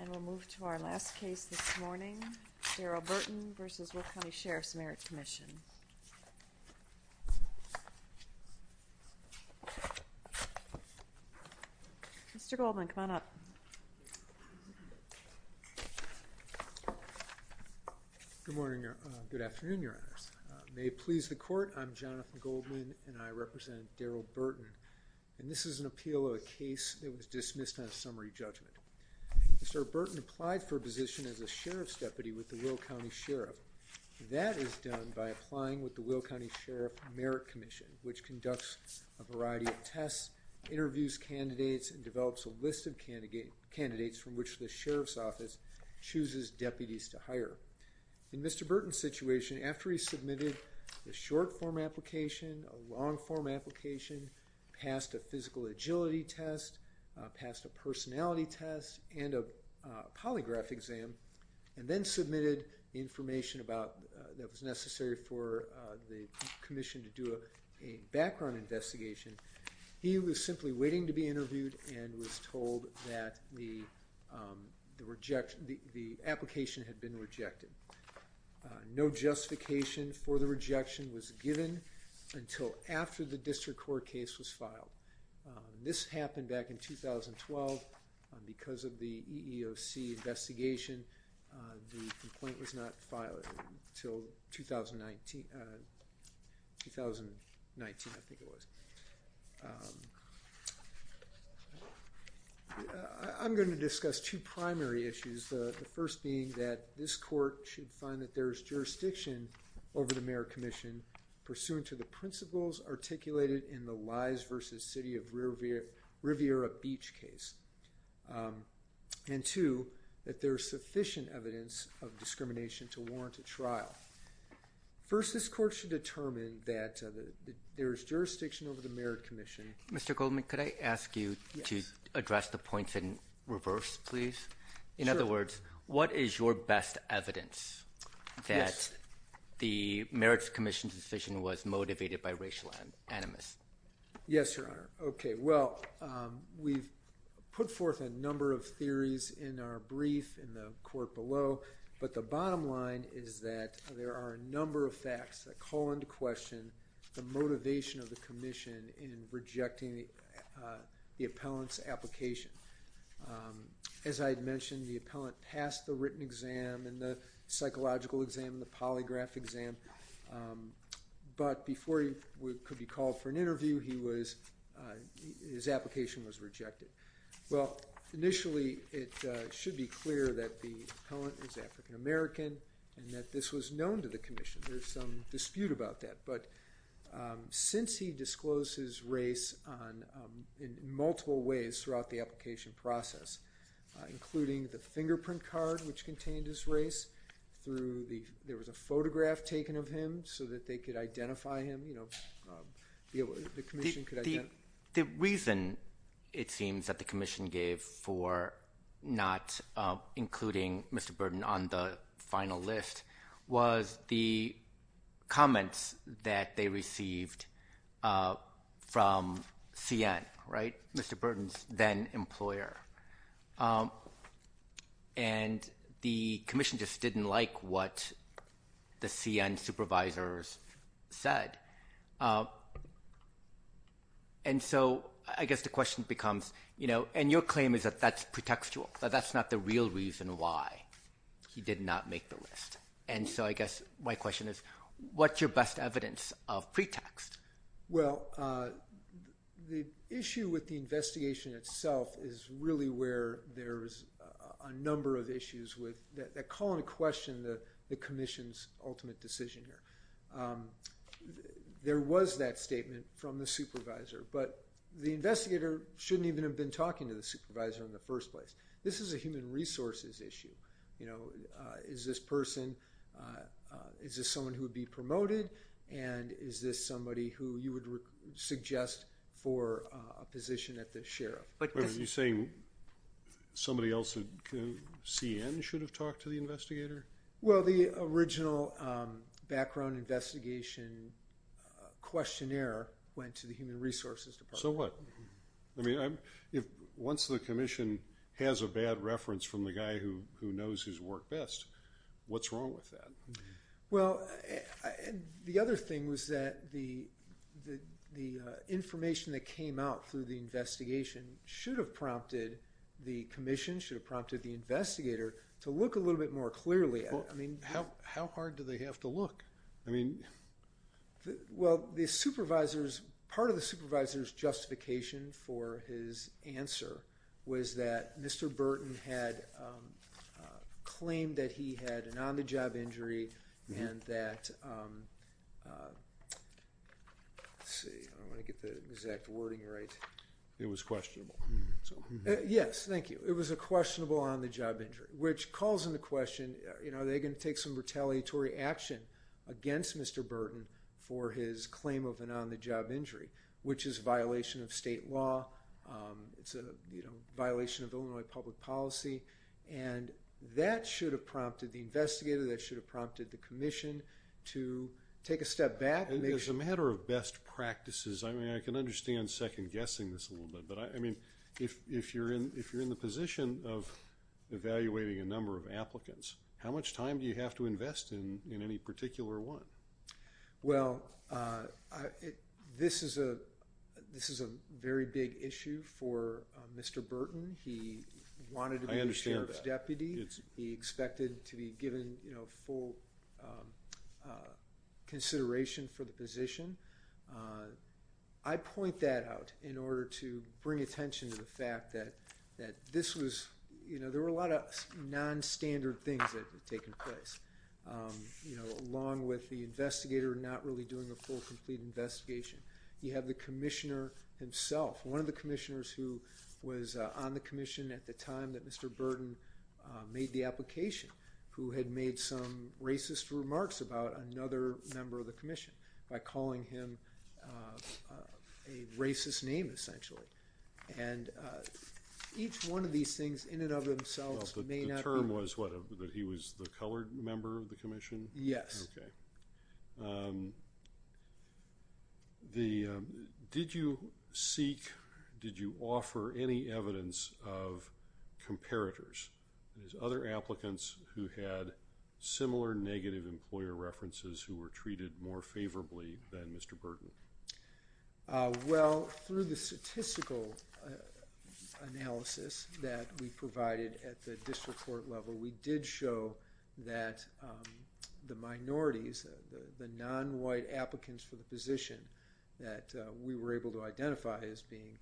And we'll move to our last case this morning, Darrell Burton v. Will County Sheriff's Merit Commission. Mr. Goldman, come on up. Good morning. Good afternoon, Your Honors. May it please the Court, I'm Jonathan Goldman and I represent Darrell Burton. And this is an appeal of a case that was dismissed on a summary judgment. Mr. Burton applied for a position as a Sheriff's Deputy with the Will County Sheriff. That is done by applying with the Will County Sheriff's Merit Commission, which conducts a variety of tests, interviews candidates, and develops a list of candidates from which the Sheriff's Office chooses deputies to hire. In Mr. Burton's situation, after he submitted a short-form application, a long-form application, passed a physical agility test, passed a personality test, and a polygraph exam, and then submitted information that was necessary for the commission to do a background investigation, he was simply waiting to be interviewed and was told that the application had been rejected. No justification for the rejection was given until after the District Court case was filed. This happened back in 2012 because of the EEOC investigation. The complaint was not filed until 2019, I think it was. I'm going to discuss two primary issues, the first being that this court should find that there is jurisdiction over the Merit Commission pursuant to the principles articulated in the Lies v. City of Riviera Beach case, and two, that there is sufficient evidence of discrimination to warrant a trial. First, this court should determine that there is jurisdiction over the Merit Commission. Mr. Goldman, could I ask you to address the points in reverse, please? In other words, what is your best evidence that the Merit Commission's decision was motivated by racial animus? Yes, Your Honor. Okay, well, we've put forth a number of theories in our brief in the court below, but the bottom line is that there are a number of facts that call into question the motivation of the commission in rejecting the appellant's application. As I had mentioned, the appellant passed the written exam and the psychological exam and the polygraph exam, but before he could be called for an interview, his application was rejected. Well, initially, it should be clear that the appellant is African American and that this was known to the commission. There's some dispute about that, but since he disclosed his race in multiple ways throughout the application process, including the fingerprint card which contained his race, there was a photograph taken of him so that they could identify him. The reason, it seems, that the commission gave for not including Mr. Burton on the final list was the comments that they received from CN, Mr. Burton's then-employer, and the commission just didn't like what the CN supervisors said, and so I guess the question becomes, and your claim is that that's pretextual, but that's not the real reason why he did not make the list, and so I guess my question is, what's your best evidence of pretext? Well, the issue with the investigation itself is really where there's a number of issues that call into question the commission's ultimate decision here. There was that statement from the supervisor, but the investigator shouldn't even have been talking to the supervisor in the first place. This is a human resources issue. Is this person, is this someone who would be promoted, and is this somebody who you would suggest for a position at the sheriff? Are you saying somebody else at CN should have talked to the investigator? Well, the original background investigation questionnaire went to the human resources department. So what? Once the commission has a bad reference from the guy who knows his work best, what's wrong with that? Well, the other thing was that the information that came out through the investigation should have prompted the commission, should have prompted the investigator to look a little bit more clearly. How hard do they have to look? Well, part of the supervisor's justification for his answer was that Mr. Burton had claimed that he had an on-the-job injury and that, let's see, I don't want to get the exact wording right. It was questionable. Yes, thank you. It was a questionable on-the-job injury, which calls into question, are they going to take some retaliatory action against Mr. Burton for his claim of an on-the-job injury, which is a violation of state law, it's a violation of Illinois public policy. And that should have prompted the investigator, that should have prompted the commission to take a step back. And as a matter of best practices, I mean, I can understand second-guessing this a little bit, but I mean, if you're in the position of evaluating a number of applicants, how much time do you have to invest in any particular one? Well, this is a very big issue for Mr. Burton. I understand that. He wanted to be the sheriff's deputy. He expected to be given full consideration for the position. I point that out in order to bring attention to the fact that this was, you know, there were a lot of non-standard things that had taken place, along with the investigator not really doing a full, complete investigation. You have the commissioner himself, one of the commissioners who was on the commission at the time that Mr. Burton made the application, who had made some racist remarks about another member of the commission by calling him a racist name, essentially. And each one of these things in and of themselves may not be- The term was what, that he was the colored member of the commission? Yes. Okay. Did you seek, did you offer any evidence of comparators? There's other applicants who had similar negative employer references who were treated more favorably than Mr. Burton. Well, through the statistical analysis that we provided at the district court level, we did show that the minorities, the non-white applicants for the position that we were able to identify as being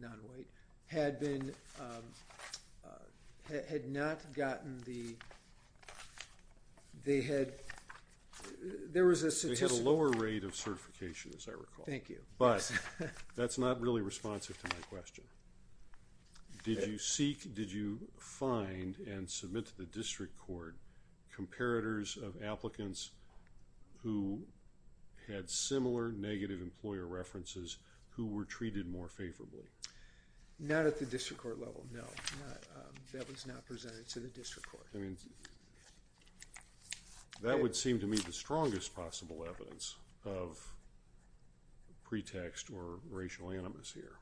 non-white, had been, had not gotten the, they had, there was a statistical- They had a lower rate of certification, as I recall. Thank you. Did you seek, did you find and submit to the district court comparators of applicants who had similar negative employer references who were treated more favorably? Not at the district court level, no. That was not presented to the district court. I mean, that would seem to me the strongest possible evidence of pretext or racial animus here.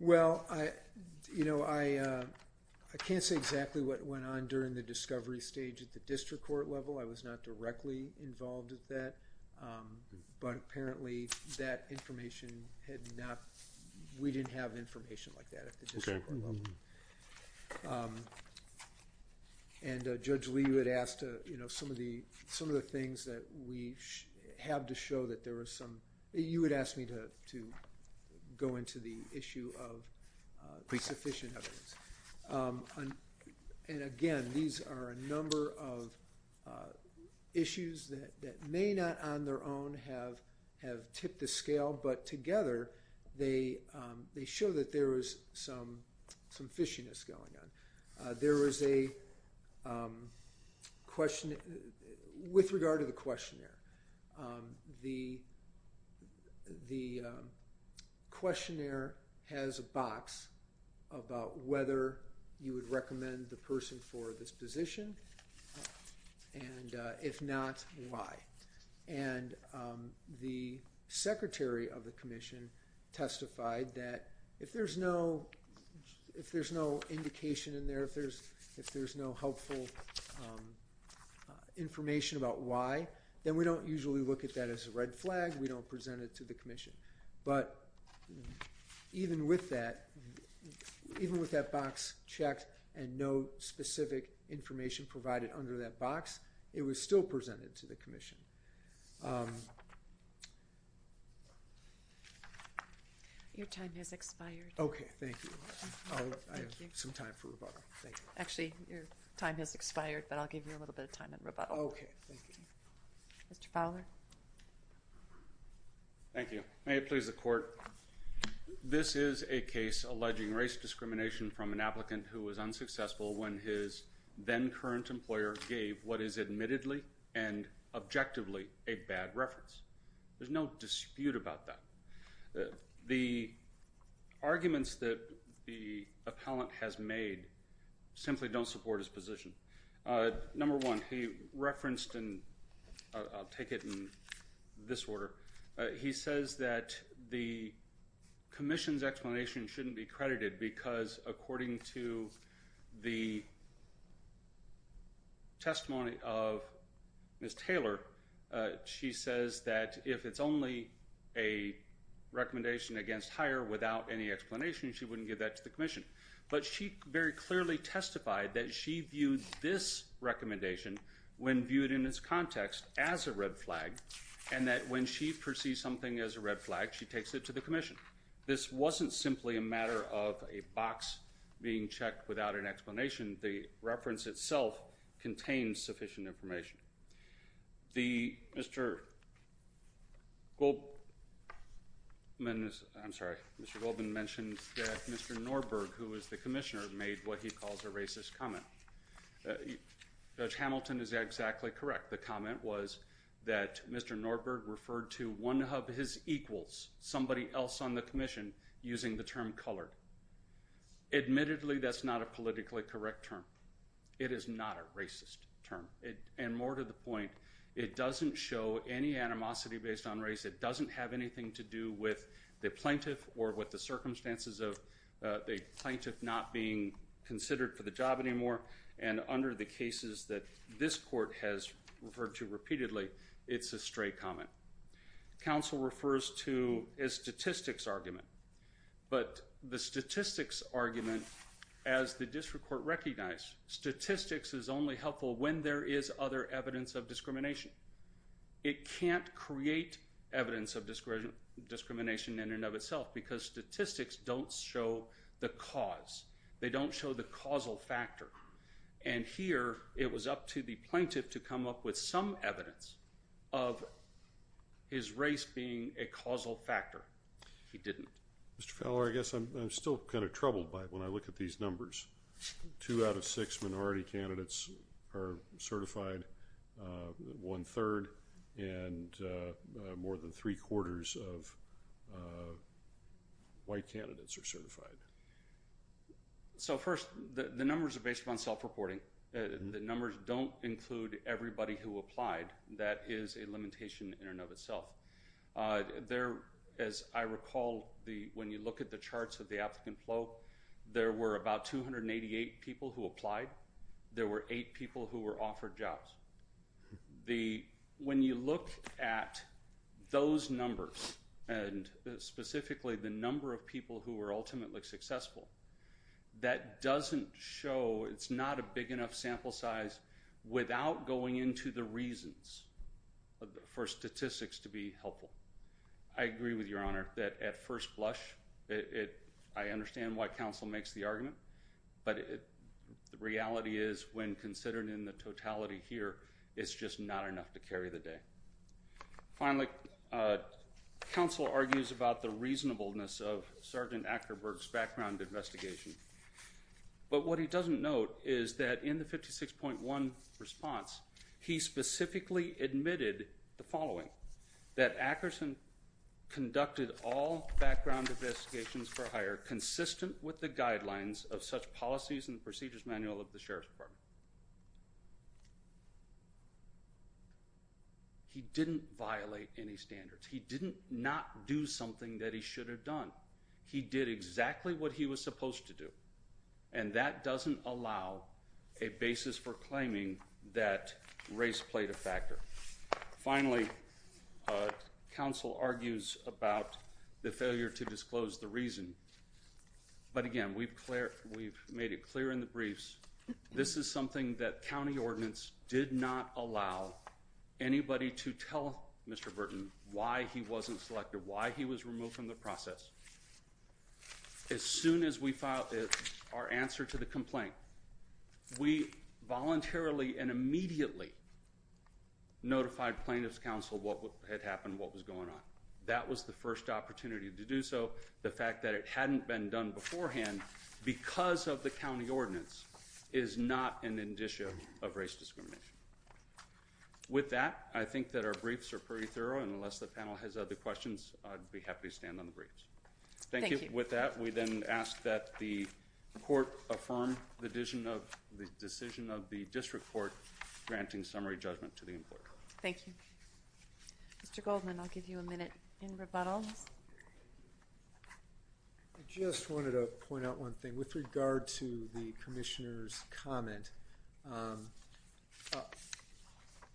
Well, I, you know, I can't say exactly what went on during the discovery stage at the district court level. I was not directly involved with that, but apparently that information had not, we didn't have information like that at the district court level. Okay. Go into the issue of sufficient evidence. And again, these are a number of issues that may not on their own have tipped the scale, but together they show that there was some fishiness going on. There was a question with regard to the questionnaire. The questionnaire has a box about whether you would recommend the person for this position, and if not, why. And the secretary of the commission testified that if there's no indication in there, if there's no helpful information about why, then we don't usually look at that as a red flag. We don't present it to the commission. But even with that, even with that box checked and no specific information provided under that box, it was still presented to the commission. Your time has expired. Okay. Thank you. I have some time for rebuttal. Actually, your time has expired, but I'll give you a little bit of time in rebuttal. Okay. Thank you. Mr. Fowler. Thank you. May it please the court. This is a case alleging race discrimination from an applicant who was unsuccessful when his then-current employer gave what is admittedly and objectively a bad reference. There's no dispute about that. The arguments that the appellant has made simply don't support his position. Number one, he referenced and I'll take it in this order. He says that the commission's explanation shouldn't be credited because according to the testimony of Ms. Taylor, she says that if it's only a recommendation against hire without any explanation, she wouldn't give that to the commission. But she very clearly testified that she viewed this recommendation when viewed in this context as a red flag, and that when she perceives something as a red flag, she takes it to the commission. This wasn't simply a matter of a box being checked without an explanation. The reference itself contains sufficient information. Mr. Goldman mentioned that Mr. Norberg, who is the commissioner, made what he calls a racist comment. Judge Hamilton is exactly correct. The comment was that Mr. Norberg referred to one of his equals, somebody else on the commission, using the term colored. Admittedly, that's not a politically correct term. It is not a racist term. And more to the point, it doesn't show any animosity based on race. It doesn't have anything to do with the plaintiff or with the circumstances of the plaintiff not being considered for the job anymore. And under the cases that this court has referred to repeatedly, it's a stray comment. Counsel refers to a statistics argument. But the statistics argument, as the district court recognized, statistics is only helpful when there is other evidence of discrimination. It can't create evidence of discrimination in and of itself because statistics don't show the cause. They don't show the causal factor. And here, it was up to the plaintiff to come up with some evidence of his race being a causal factor. He didn't. Mr. Feller, I guess I'm still kind of troubled by it when I look at these numbers. Two out of six minority candidates are certified, one-third, and more than three-quarters of white candidates are certified. So, first, the numbers are based upon self-reporting. The numbers don't include everybody who applied. That is a limitation in and of itself. There, as I recall, when you look at the charts of the applicant flow, there were about 288 people who applied. There were eight people who were offered jobs. When you look at those numbers, and specifically the number of people who were ultimately successful, that doesn't show it's not a big enough sample size without going into the reasons for statistics to be helpful. I agree with Your Honor that at first blush, I understand why counsel makes the argument, but the reality is when considered in the totality here, it's just not enough to carry the day. Finally, counsel argues about the reasonableness of Sergeant Ackerberg's background investigation, but what he doesn't note is that in the 56.1 response, he specifically admitted the following, that Ackerson conducted all background investigations for hire consistent with the guidelines of such policies He didn't violate any standards. He didn't not do something that he should have done. He did exactly what he was supposed to do, and that doesn't allow a basis for claiming that race played a factor. Finally, counsel argues about the failure to disclose the reason, but again, we've made it clear in the briefs. This is something that county ordinance did not allow anybody to tell Mr. Burton why he wasn't selected, why he was removed from the process. As soon as we filed our answer to the complaint, we voluntarily and immediately notified plaintiff's counsel what had happened, what was going on. That was the first opportunity to do so. The fact that it hadn't been done beforehand, because of the county ordinance, is not an indicia of race discrimination. With that, I think that our briefs are pretty thorough, and unless the panel has other questions, I'd be happy to stand on the briefs. Thank you. With that, we then ask that the court affirm the decision of the district court granting summary judgment to the employer. Thank you. Mr. Goldman, I'll give you a minute in rebuttal. I just wanted to point out one thing. With regard to the commissioner's comment,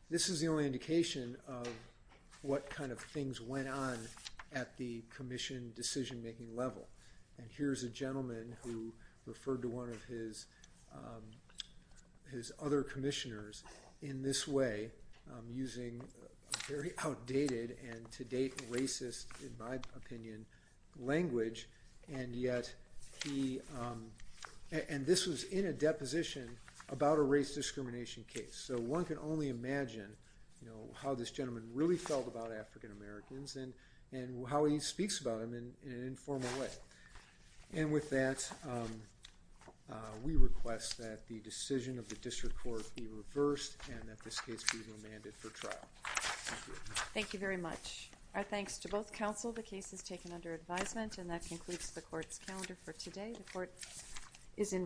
this is the only indication of what kind of things went on at the commission decision-making level. Here's a gentleman who referred to one of his other commissioners in this way, using very outdated and, to date, racist, in my opinion, language. This was in a deposition about a race discrimination case. One can only imagine how this gentleman really felt about African Americans and how he speaks about them in an informal way. With that, we request that the decision of the district court be reversed and that this case be remanded for trial. Thank you very much. Our thanks to both counsel. The case is taken under advisement. That concludes the court's calendar for today. The court is in recess.